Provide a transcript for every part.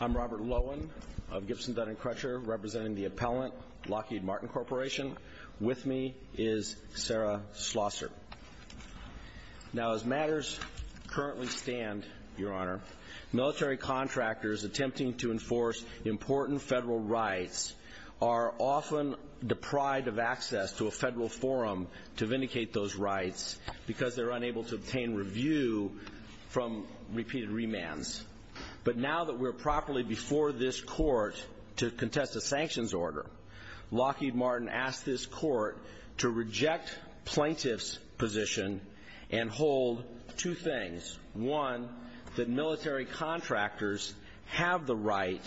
I'm Robert Lowen of Gibson, Dun and Crutcher, representing the appellant, Lockheed Martin Corporation. With me is Sarah Schlosser. Now as matters currently stand, your honor, military contractors attempting to enforce important federal rights are often deprived of access to a federal forum to vindicate those rights because they're unable to obtain review from repeated remands. But now that we're properly before this court to contest a sanctions order, Lockheed Martin asked this court to reject plaintiff's position and hold two things. One, that military contractors have the right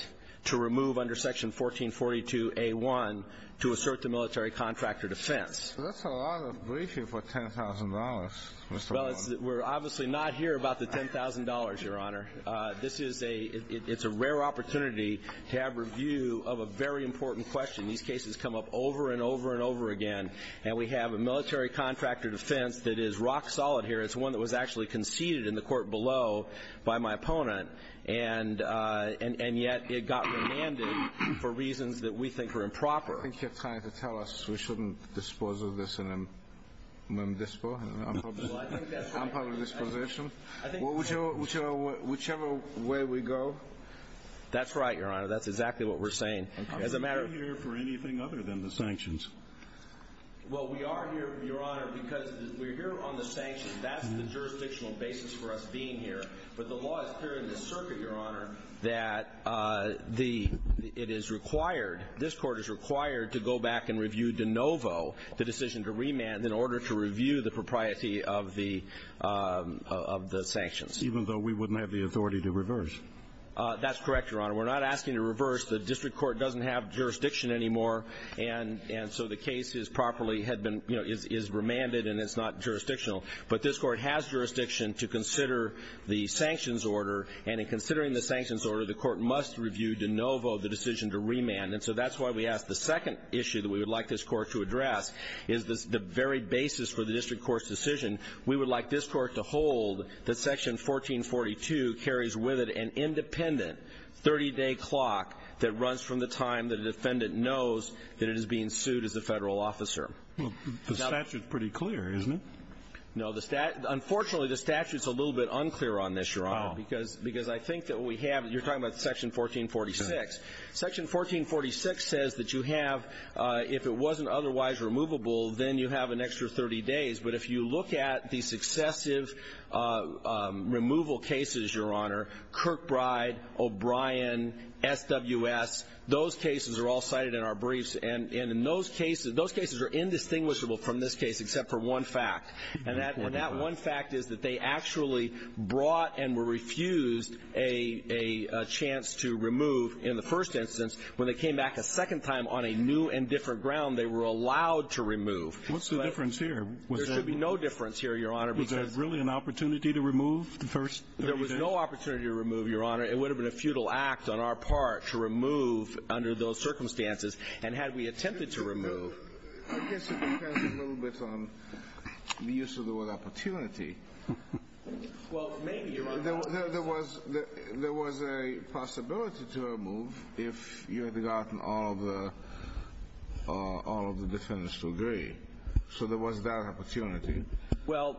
to remove under section 1442A1 to assert the military contractor defense. That's a lot of briefing for $10,000, Mr. Lowen. Well, we're obviously not here about the $10,000, your honor. It's a rare opportunity to have review of a very important question. These cases come up over and over and over again, and we have a military contractor defense that is rock solid here. It's one that was actually conceded in the court below by my opponent, and yet it got remanded for reasons that we think are improper. I think you're trying to tell us we shouldn't dispose of this in a mem-dispo. I'm probably disposition. Whichever way we go. That's right, your honor. That's exactly what we're saying. I'm not here for anything other than the sanctions. Well, we are here, your honor, because we're here on the sanctions. That's the jurisdictional basis for us being here. But the law is clear in this circuit, your honor, that it is required, this Court is required to go back and review de novo the decision to remand in order to review the propriety of the sanctions. Even though we wouldn't have the authority to reverse? That's correct, your honor. We're not asking to reverse. The district court doesn't have jurisdiction anymore, and so the case is properly had been, you know, is remanded and it's not jurisdictional. But this Court has jurisdiction to consider the sanctions order, and in considering the sanctions order, the Court must review de novo the decision to remand. And so that's why we ask the second issue that we would like this Court to address is the very basis for the district court's decision. We would like this Court to hold that Section 1442 carries with it an independent 30-day clock that runs from the time the defendant knows that it is being sued as a Federal officer. The statute is pretty clear, isn't it? No. Unfortunately, the statute is a little bit unclear on this, your honor, because I think that we have, you're talking about Section 1446. Section 1446 says that you have, if it wasn't otherwise removable, then you have an extra 30 days. But if you look at the successive removal cases, your honor, Kirkbride, O'Brien, SWS, those cases are all cited in our briefs. And in those cases, those cases are indistinguishable from this case except for one fact. And that one fact is that they actually brought and were refused a chance to remove in the first instance. When they came back a second time on a new and different ground, they were allowed to remove. What's the difference here? There should be no difference here, your honor. Was there really an opportunity to remove the first 30 days? There was no opportunity to remove, your honor. It would have been a futile act on our part to remove under those circumstances. And had we attempted to remove ---- I guess it depends a little bit on the use of the word opportunity. Well, maybe, your honor. There was a possibility to remove if you had gotten all of the defendants to agree. So there was that opportunity. Well,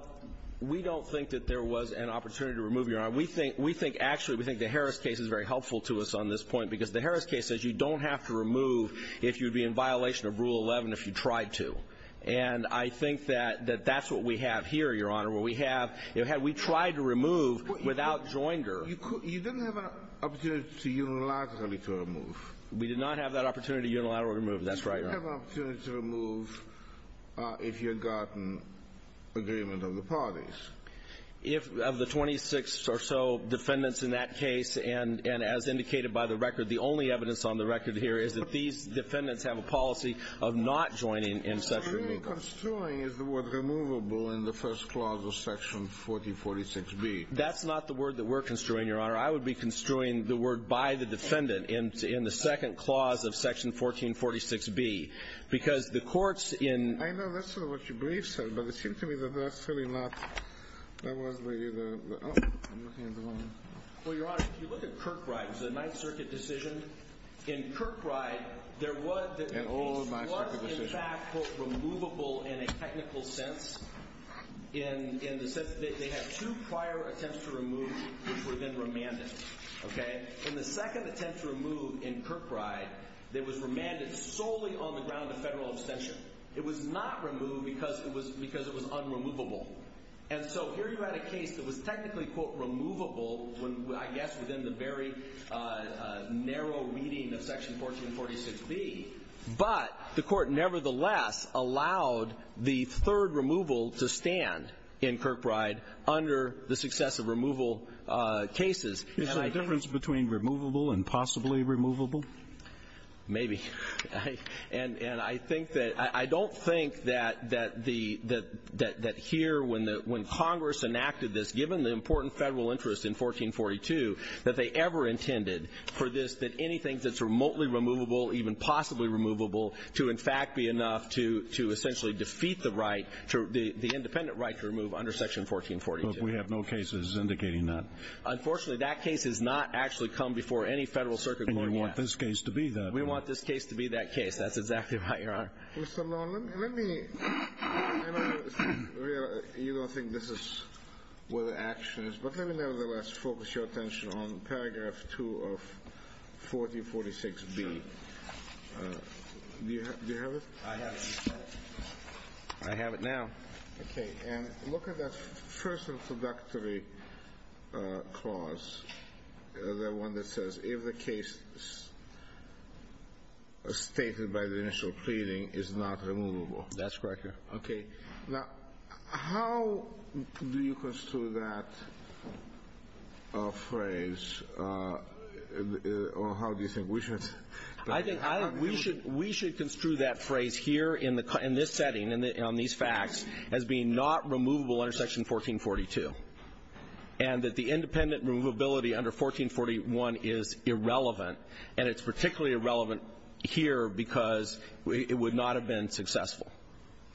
we don't think that there was an opportunity to remove, your honor. We think, actually, we think the Harris case is very helpful to us on this point, because the Harris case says you don't have to remove if you'd be in violation of Rule 11 if you tried to. And I think that that's what we have here, your honor, where we have ---- we tried to remove without joinder. You didn't have an opportunity unilaterally to remove. We did not have that opportunity unilaterally to remove. That's right, your honor. You didn't have an opportunity to remove if you had gotten agreement of the parties. If, of the 26 or so defendants in that case, and as indicated by the record, the only evidence on the record here is that these defendants have a policy of not joining in Section B. So you're construing, is the word removable in the first clause of Section 1446B? That's not the word that we're construing, your honor. I would be construing the word by the defendant in the second clause of Section 1446B, because the courts in ---- I know that's sort of what your brief said, but it seemed to me that that's really not ---- Well, your honor, if you look at Kirkbride, it was a Ninth Circuit decision. In Kirkbride, there was ---- An old Ninth Circuit decision. It was, in fact, quote, removable in a technical sense in the sense that they had two prior attempts to remove which were then remanded, okay? In the second attempt to remove in Kirkbride, it was remanded solely on the ground of federal abstention. It was not removed because it was unremovable. And so here you had a case that was technically, quote, removable when I guess within the very narrow reading of Section 1446B, but the Court nevertheless allowed the third removal to stand in Kirkbride under the successive removal cases. Is there a difference between removable and possibly removable? Maybe. And I think that ---- I don't think that the ---- that here when Congress enacted this, given the important federal interest in 1442, that they ever intended for this that anything that's remotely removable, even possibly removable, to in fact be enough to essentially defeat the right to ---- the independent right to remove under Section 1442. But we have no cases indicating that. Unfortunately, that case has not actually come before any Federal Circuit ruling yet. And you want this case to be that one. We want this case to be that case. That's exactly right, Your Honor. Mr. Long, let me ---- I know you don't think this is what the action is, but let me nevertheless focus your attention on paragraph 2 of 1446B. Do you have it? I have it in front. I have it now. Okay. And look at that first introductory clause, the one that says, if the case stated by the initial pleading is not removable. That's correct, Your Honor. Okay. Now, how do you construe that phrase, or how do you think we should ---- I think we should ---- we should construe that phrase here in the ---- in this setting on these facts as being not removable under Section 1442, and that the independent removability under 1441 is irrelevant. And it's particularly irrelevant here because it would not have been successful.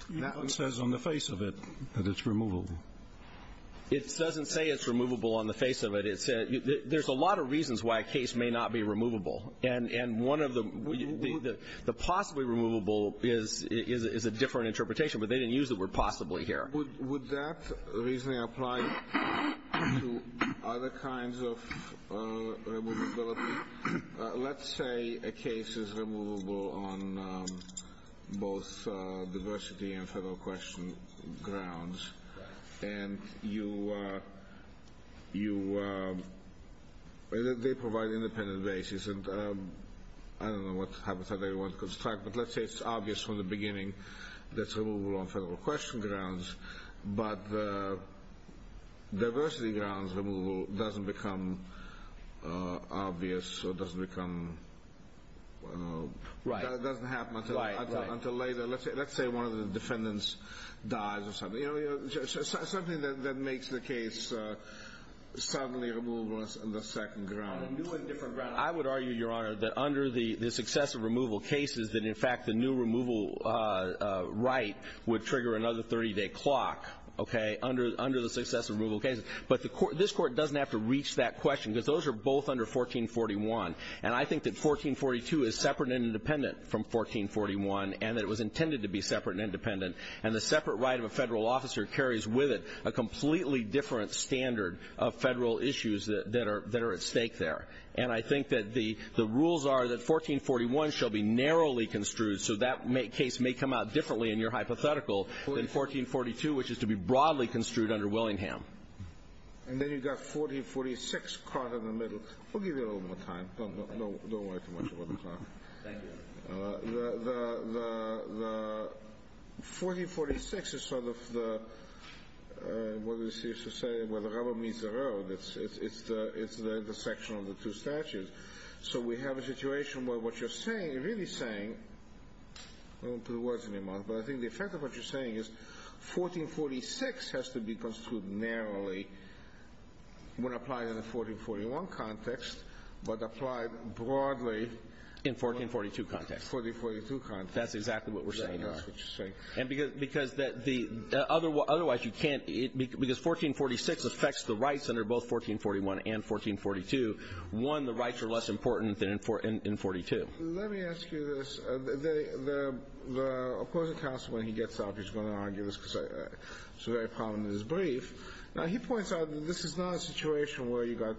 That one says on the face of it that it's removable. It doesn't say it's removable on the face of it. There's a lot of reasons why a case may not be removable. And one of the ---- the possibly removable is a different interpretation, but they didn't use the word possibly here. Would that reasoning apply to other kinds of removability? Let's say a case is removable on both diversity and federal question grounds, and you ---- they provide independent basis. And I don't know what habitat they want to construct, but let's say it's obvious from the beginning that it's removable on federal question grounds, but the diversity grounds removal doesn't become obvious or doesn't become ---- Right. It doesn't happen until later. Let's say one of the defendants dies or something. You know, something that makes the case suddenly removable on the second ground. On a new and different ground, I would argue, Your Honor, that under the successive removal cases, that in fact the new removal right would trigger another 30-day clock, okay, under the successive removal cases. But the court ---- this Court doesn't have to reach that question, because those are both under 1441. And I think that 1442 is separate and independent from 1441, and that it was intended to be separate and independent. And the separate right of a federal officer carries with it a completely different standard of federal issues that are at stake there. And I think that the rules are that 1441 shall be narrowly construed, so that case may come out differently in your hypothetical than 1442, which is to be broadly construed under Willingham. And then you've got 1446 caught in the middle. We'll give you a little more time. Don't worry too much about the clock. Thank you, Your Honor. The 1446 is sort of the, what is used to say, where the rubber meets the road. It's the intersection of the two statutes. So we have a situation where what you're saying, really saying, I won't put words in your mouth, but I think the effect of what you're saying is 1446 has to be construed narrowly when applied in the 1441 context, but applied broadly in 1442 context. 1442 context. That's exactly what we're saying. That's what you're saying. Because 1446 affects the rights under both 1441 and 1442. One, the rights are less important than in 1442. Let me ask you this. The opposing counsel, when he gets out, he's going to argue this because it's very prominent in his brief. Now, he points out that this is not a situation where you got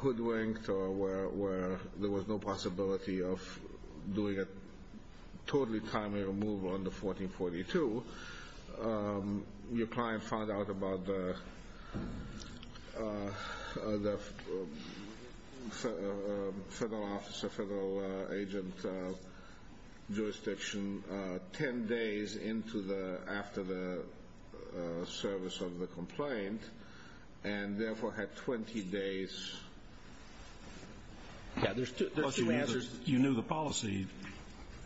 hoodwinked or where there was no possibility of doing a totally timely removal under 1442. Your client found out about the federal officer, federal agent jurisdiction 10 days after the service of the complaint and, therefore, had 20 days. You knew the policy.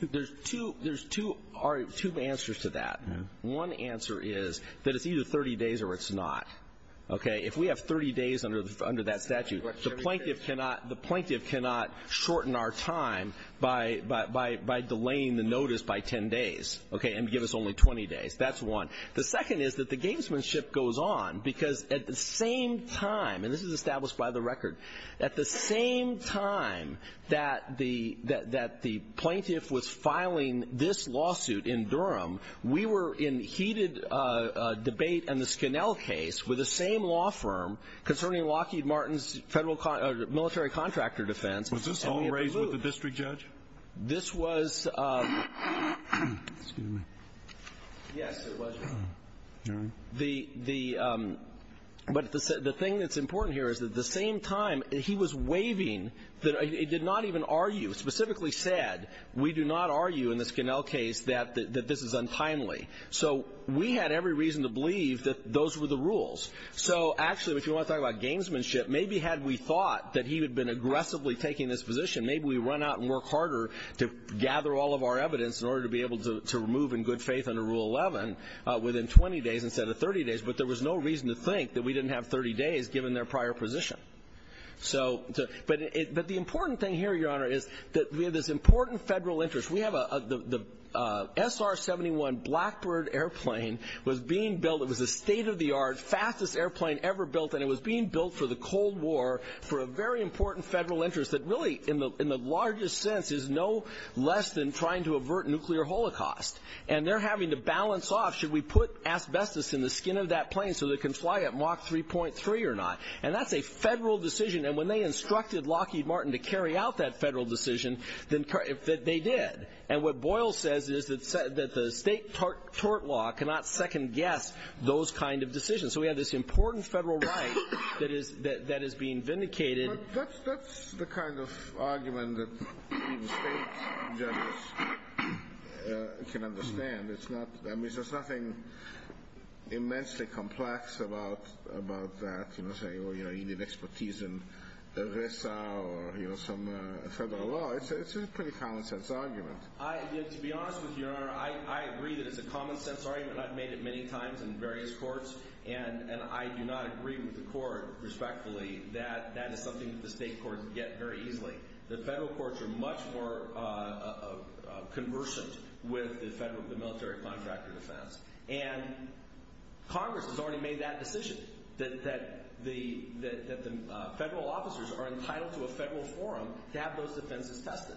There's two answers to that. One answer is that it's either 30 days or it's not. If we have 30 days under that statute, the plaintiff cannot shorten our time by delaying the notice by 10 days, okay, and give us only 20 days. That's one. The second is that the gamesmanship goes on, because at the same time, and this is established by the record, at the same time that the plaintiff was filing this lawsuit in Durham, we were in heated debate in the Skinnell case with the same law firm concerning Lockheed Martin's military contractor defense. Was this all raised with the district judge? This was. Excuse me. Yes, it was. All right. But the thing that's important here is that at the same time, he was waiving that he did not even argue, specifically said, we do not argue in the Skinnell case that this is untimely. So we had every reason to believe that those were the rules. So, actually, if you want to talk about gamesmanship, maybe had we thought that he had been aggressively taking this position, maybe we would run out and work harder to gather all of our evidence in order to be able to move in good faith under Rule 11 within 20 days instead of 30 days. But there was no reason to think that we didn't have 30 days given their prior position. But the important thing here, Your Honor, is that we have this important federal interest. We have the SR-71 Blackbird airplane was being built. It was a state-of-the-art, fastest airplane ever built, and it was being built for the Cold War for a very important federal interest that really, in the largest sense, is no less than trying to avert nuclear holocaust. And they're having to balance off, should we put asbestos in the skin of that plane so that it can fly at Mach 3.3 or not? And that's a federal decision. And when they instructed Lockheed Martin to carry out that federal decision, they did. And what Boyle says is that the state tort law cannot second-guess those kind of decisions. So we have this important federal right that is being vindicated. But that's the kind of argument that even state judges can understand. I mean, there's nothing immensely complex about that, you know, saying, well, you need expertise in RISA or some federal law. It's a pretty common-sense argument. To be honest with you, Your Honor, I agree that it's a common-sense argument. I've made it many times in various courts. And I do not agree with the court, respectfully, that that is something that the state courts get very easily. The federal courts are much more conversant with the military contractor defense. And Congress has already made that decision, that the federal officers are entitled to a federal forum to have those defenses tested.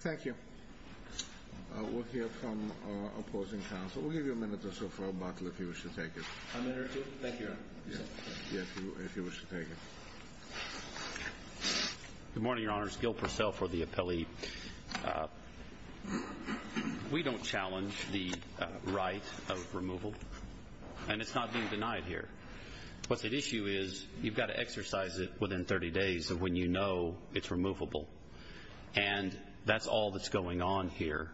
Thank you. We'll hear from opposing counsel. We'll give you a minute or so for a bottle if you wish to take it. A minute or two? Thank you, Your Honor. Yes, if you wish to take it. Good morning, Your Honors. Gil Purcell for the appellee. We don't challenge the right of removal. And it's not being denied here. What's at issue is you've got to exercise it within 30 days of when you know it's removable. And that's all that's going on here.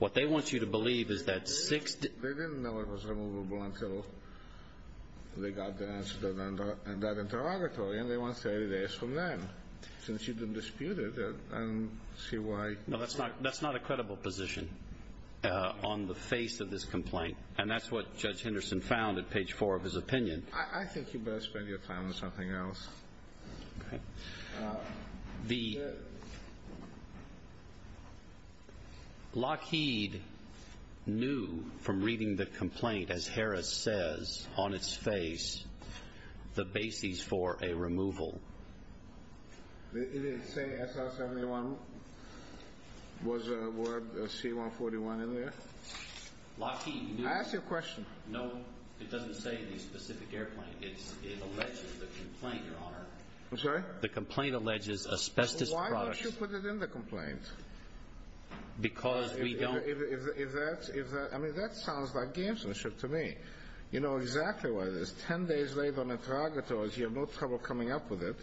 What they want you to believe is that six days. They didn't know it was removable until they got the answer in that interrogatory. And they want 30 days from then, since you've been disputed. And see why. No, that's not a credible position on the face of this complaint. And that's what Judge Henderson found at page four of his opinion. I think you better spend your time on something else. Okay. The Lockheed knew from reading the complaint, as Harris says, on its face, the basis for a removal. It didn't say SR-71? Was a C-141 in there? Lockheed knew. I asked you a question. No, it doesn't say the specific airplane. It alleges the complaint, Your Honor. I'm sorry? The complaint alleges asbestos products. Why don't you put it in the complaint? Because we don't. I mean, that sounds like gamesmanship to me. You know exactly what it is. Ten days later on interrogatories, you have no trouble coming up with it.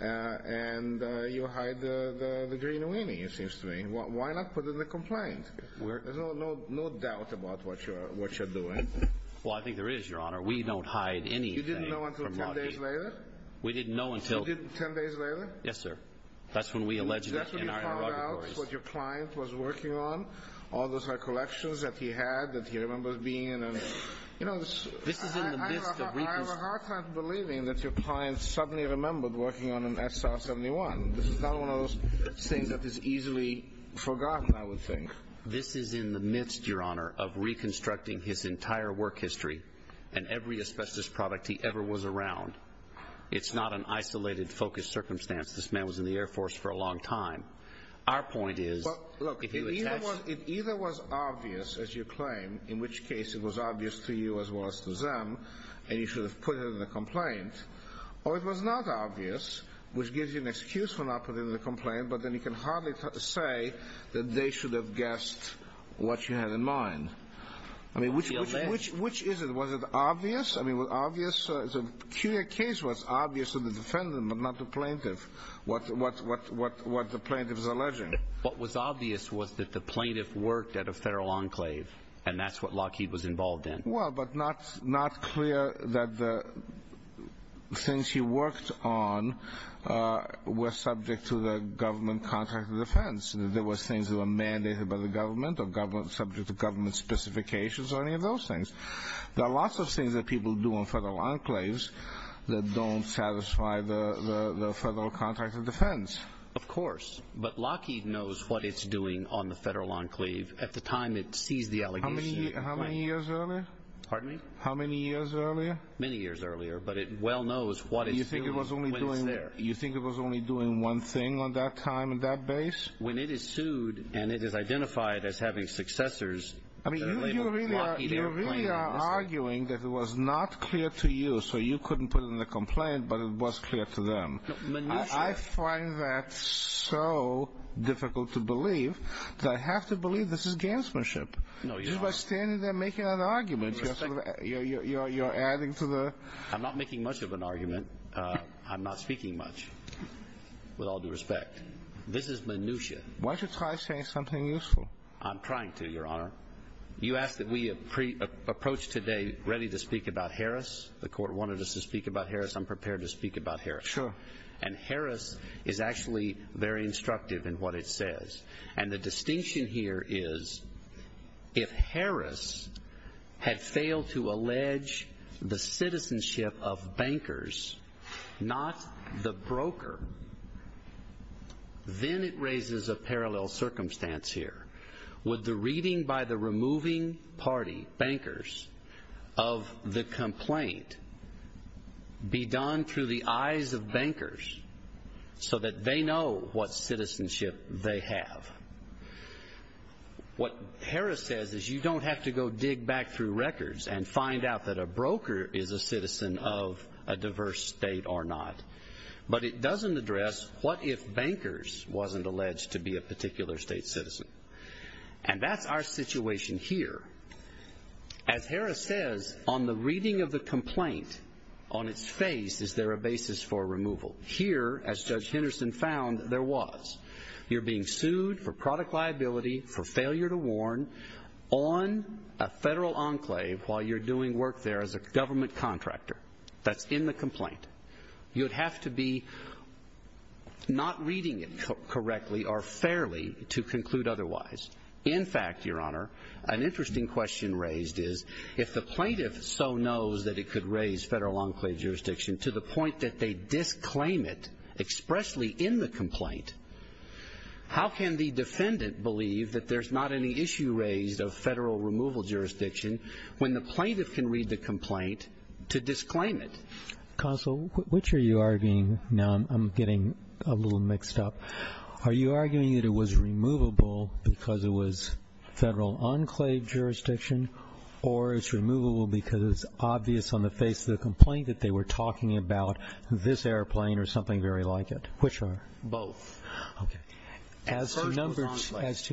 And you hide the green weenie, it seems to me. Why not put it in the complaint? There's no doubt about what you're doing. Well, I think there is, Your Honor. We don't hide anything from Lockheed. Ten days later? We didn't know until. You didn't ten days later? Yes, sir. That's when we alleged it in our interrogatories. Is that when you found out what your client was working on, all those high collections that he had that he remembers being in? You know, I have a hard time believing that your client suddenly remembered working on an SR-71. This is not one of those things that is easily forgotten, I would think. This is in the midst, Your Honor, of reconstructing his entire work history and every asbestos product he ever was around. It's not an isolated, focused circumstance. This man was in the Air Force for a long time. Our point is, if you attach— Look, it either was obvious, as you claim, in which case it was obvious to you as well as to them, and you should have put it in the complaint, or it was not obvious, which gives you an excuse for not putting it in the complaint, but then you can hardly say that they should have guessed what you had in mind. I mean, which is it? Was it obvious? I mean, was it obvious? It's a peculiar case where it's obvious to the defendant, but not the plaintiff, what the plaintiff is alleging. What was obvious was that the plaintiff worked at a federal enclave, and that's what Lockheed was involved in. Well, but not clear that the things he worked on were subject to the government contract of defense. There were things that were mandated by the government or subject to government specifications or any of those things. There are lots of things that people do in federal enclaves that don't satisfy the federal contract of defense. Of course, but Lockheed knows what it's doing on the federal enclave at the time it sees the allegations. How many years earlier? Pardon me? How many years earlier? Many years earlier, but it well knows what it's doing when it's there. You think it was only doing one thing on that time and that base? When it is sued and it is identified as having successors, you really are arguing that it was not clear to you, so you couldn't put it in the complaint, but it was clear to them. I find that so difficult to believe that I have to believe this is janssmanship. No, Your Honor. Just by standing there making an argument, you're adding to the ---- I'm not making much of an argument. I'm not speaking much, with all due respect. This is minutia. Why don't you try saying something useful? I'm trying to, Your Honor. You asked that we approach today ready to speak about Harris. The Court wanted us to speak about Harris. I'm prepared to speak about Harris. Sure. And Harris is actually very instructive in what it says. And the distinction here is, if Harris had failed to allege the citizenship of bankers, not the broker, then it raises a parallel circumstance here. Would the reading by the removing party, bankers, of the complaint, be done through the eyes of bankers so that they know what citizenship they have? What Harris says is you don't have to go dig back through records and find out that a broker is a citizen of a diverse state or not. But it doesn't address what if bankers wasn't alleged to be a particular state citizen. And that's our situation here. As Harris says, on the reading of the complaint, on its face, is there a basis for removal? Here, as Judge Henderson found, there was. You're being sued for product liability for failure to warn on a federal enclave while you're doing work there as a government contractor. That's in the complaint. You'd have to be not reading it correctly or fairly to conclude otherwise. In fact, Your Honor, an interesting question raised is, if the plaintiff so knows that it could raise federal enclave jurisdiction to the point that they disclaim it expressly in the complaint, how can the defendant believe that there's not any issue raised of federal removal jurisdiction when the plaintiff can read the complaint to disclaim it? Counsel, which are you arguing? Now I'm getting a little mixed up. Are you arguing that it was removable because it was federal enclave jurisdiction or it's removable because it's obvious on the face of the complaint that they were talking about this airplane or something very like it? Which are? Both. Okay. As to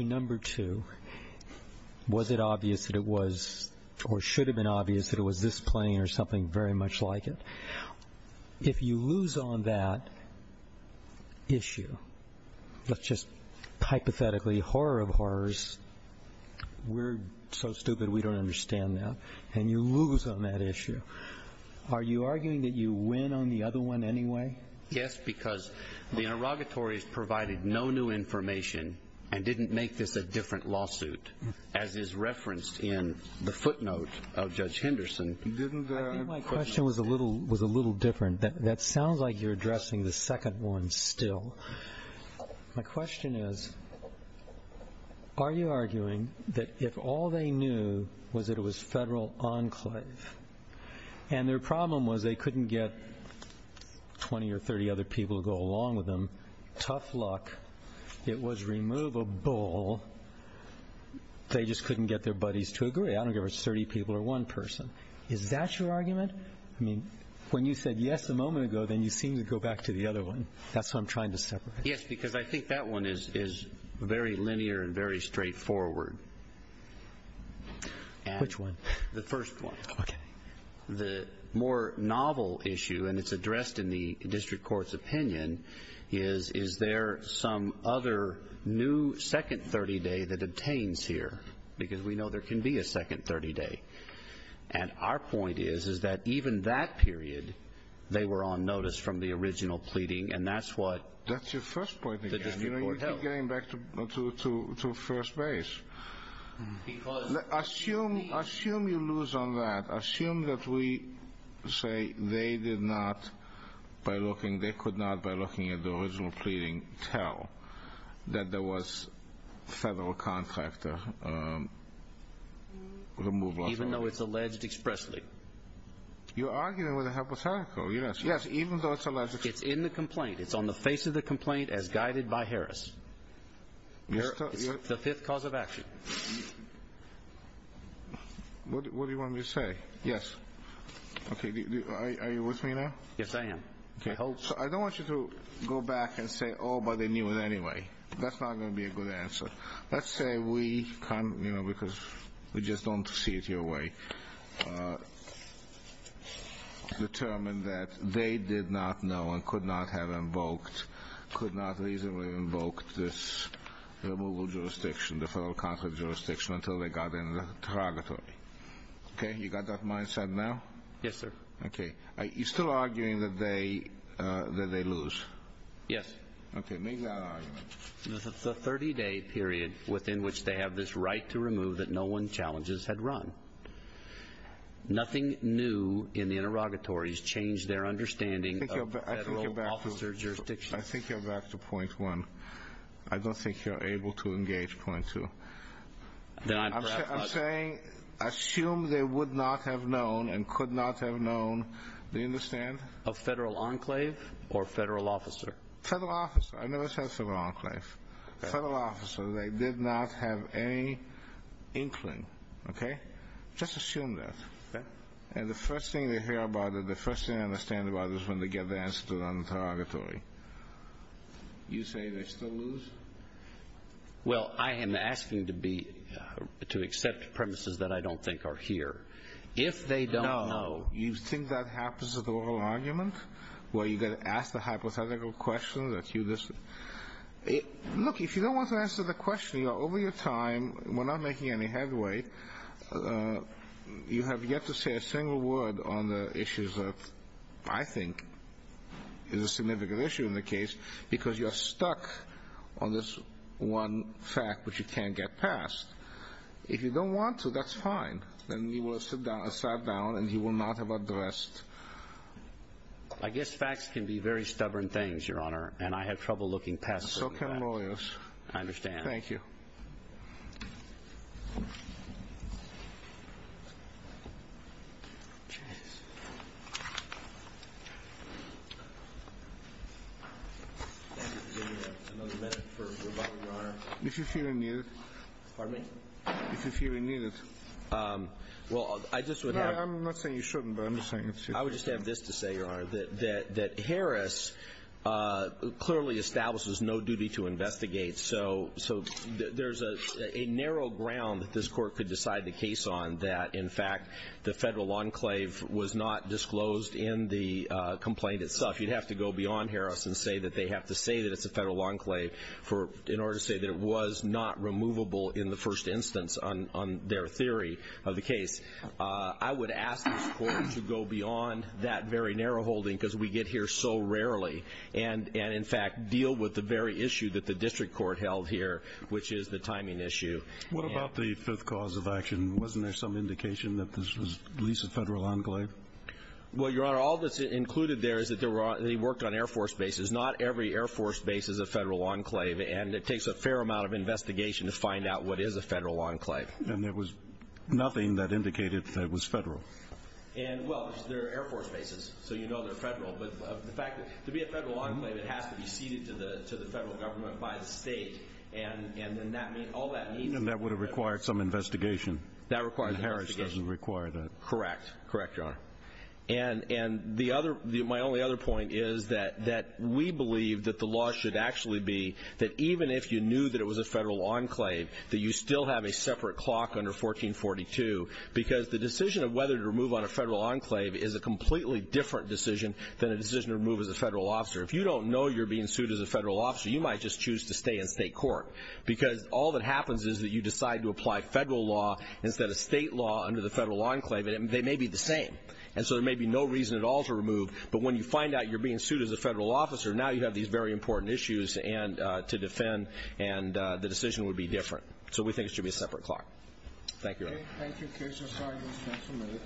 number two, was it obvious that it was or should have been obvious that it was this plane or something very much like it? If you lose on that issue, let's just hypothetically horror of horrors, we're so stupid we don't understand that, and you lose on that issue, are you arguing that you win on the other one anyway? Yes, because the interrogatories provided no new information and didn't make this a different lawsuit, as is referenced in the footnote of Judge Henderson. I think my question was a little different. That sounds like you're addressing the second one still. My question is, are you arguing that if all they knew was that it was federal enclave and their problem was they couldn't get 20 or 30 other people to go along with them, tough luck, it was removable, they just couldn't get their buddies to agree. I don't care if it's 30 people or one person. Is that your argument? I mean, when you said yes a moment ago, then you seem to go back to the other one. That's what I'm trying to separate. Yes, because I think that one is very linear and very straightforward. Which one? The first one. Okay. The more novel issue, and it's addressed in the district court's opinion, is is there some other new second 30-day that obtains here? Because we know there can be a second 30-day. And our point is is that even that period, they were on notice from the original pleading, and that's what the district court held. That's your first point again. You keep getting back to first base. Assume you lose on that. Assume that we say they did not, by looking, at the original pleading, tell that there was federal contractor removal. Even though it's alleged expressly. You're arguing with a hypothetical. Yes, even though it's alleged expressly. It's in the complaint. It's on the face of the complaint as guided by Harris. It's the fifth cause of action. What do you want me to say? Yes. Okay. Are you with me now? Yes, I am. I hope so. I don't want you to go back and say, oh, but they knew it anyway. That's not going to be a good answer. Let's say we come, you know, because we just don't see it your way, determined that they did not know and could not have invoked, could not reasonably invoke this removal jurisdiction, the federal contract jurisdiction until they got in the interrogatory. Okay? You got that mindset now? Yes, sir. Okay. You're still arguing that they lose? Yes. Okay. Make that argument. It's a 30-day period within which they have this right to remove that no one challenges had run. Nothing new in the interrogatories changed their understanding of the federal officer jurisdiction. I think you're back to point one. I don't think you're able to engage point two. I'm saying assume they would not have known and could not have known. Do you understand? A federal enclave or federal officer? Federal officer. I never said federal enclave. Okay. Federal officer. They did not have any inkling. Okay? Just assume that. Okay. And the first thing they hear about it, the first thing they understand about it is when they get the answer to it on the interrogatory. You say they still lose? Well, I am asking to be, to accept premises that I don't think are here. If they don't know. No. You think that happens at oral argument where you get asked a hypothetical question that you listen? Look, if you don't want to answer the question, over your time, we're not making any headway, you have yet to say a single word on the issues that I think is a significant issue in the case because you're stuck on this one fact which you can't get past. If you don't want to, that's fine. Then we will sit down and he will not have addressed. I guess facts can be very stubborn things, Your Honor, and I have trouble looking past them. So can lawyers. I understand. Thank you. Thank you for giving me another minute for rebuttal, Your Honor. If you feel you need it. Pardon me? If you feel you need it. Well, I just would have. No, I'm not saying you shouldn't, but I'm saying you should. I would just have this to say, Your Honor, that Harris clearly establishes no duty to investigate. So there's a narrow ground that this Court could decide the case on that, in fact, the federal enclave was not disclosed in the complaint itself. You'd have to go beyond Harris and say that they have to say that it's a federal enclave in order to say that it was not removable in the first instance on their theory of the case. I would ask this Court to go beyond that very narrow holding because we get here so rarely and, in fact, deal with the very issue that the district court held here, which is the timing issue. What about the fifth cause of action? Wasn't there some indication that this was at least a federal enclave? Well, Your Honor, all that's included there is that they worked on Air Force bases. Not every Air Force base is a federal enclave, and it takes a fair amount of investigation to find out what is a federal enclave. And there was nothing that indicated that it was federal? Well, they're Air Force bases, so you know they're federal. But the fact that to be a federal enclave, it has to be ceded to the federal government by the state, and then all that means is that it's a federal enclave. And that would have required some investigation. That required some investigation. And Harris doesn't require that. Correct. Correct, Your Honor. And my only other point is that we believe that the law should actually be that even if you knew that it was a federal enclave, that you still have a separate clock under 1442 because the decision of whether to remove on a federal enclave is a completely different decision than a decision to remove as a federal officer. If you don't know you're being sued as a federal officer, you might just choose to stay in state court because all that happens is that you decide to apply federal law instead of state law under the federal enclave, and they may be the same. And so there may be no reason at all to remove, but when you find out you're being sued as a federal officer, now you have these very important issues to defend, and the decision would be different. So we think it should be a separate clock. Thank you, Your Honor. Thank you, Keisha. Sorry, we'll stop for a minute.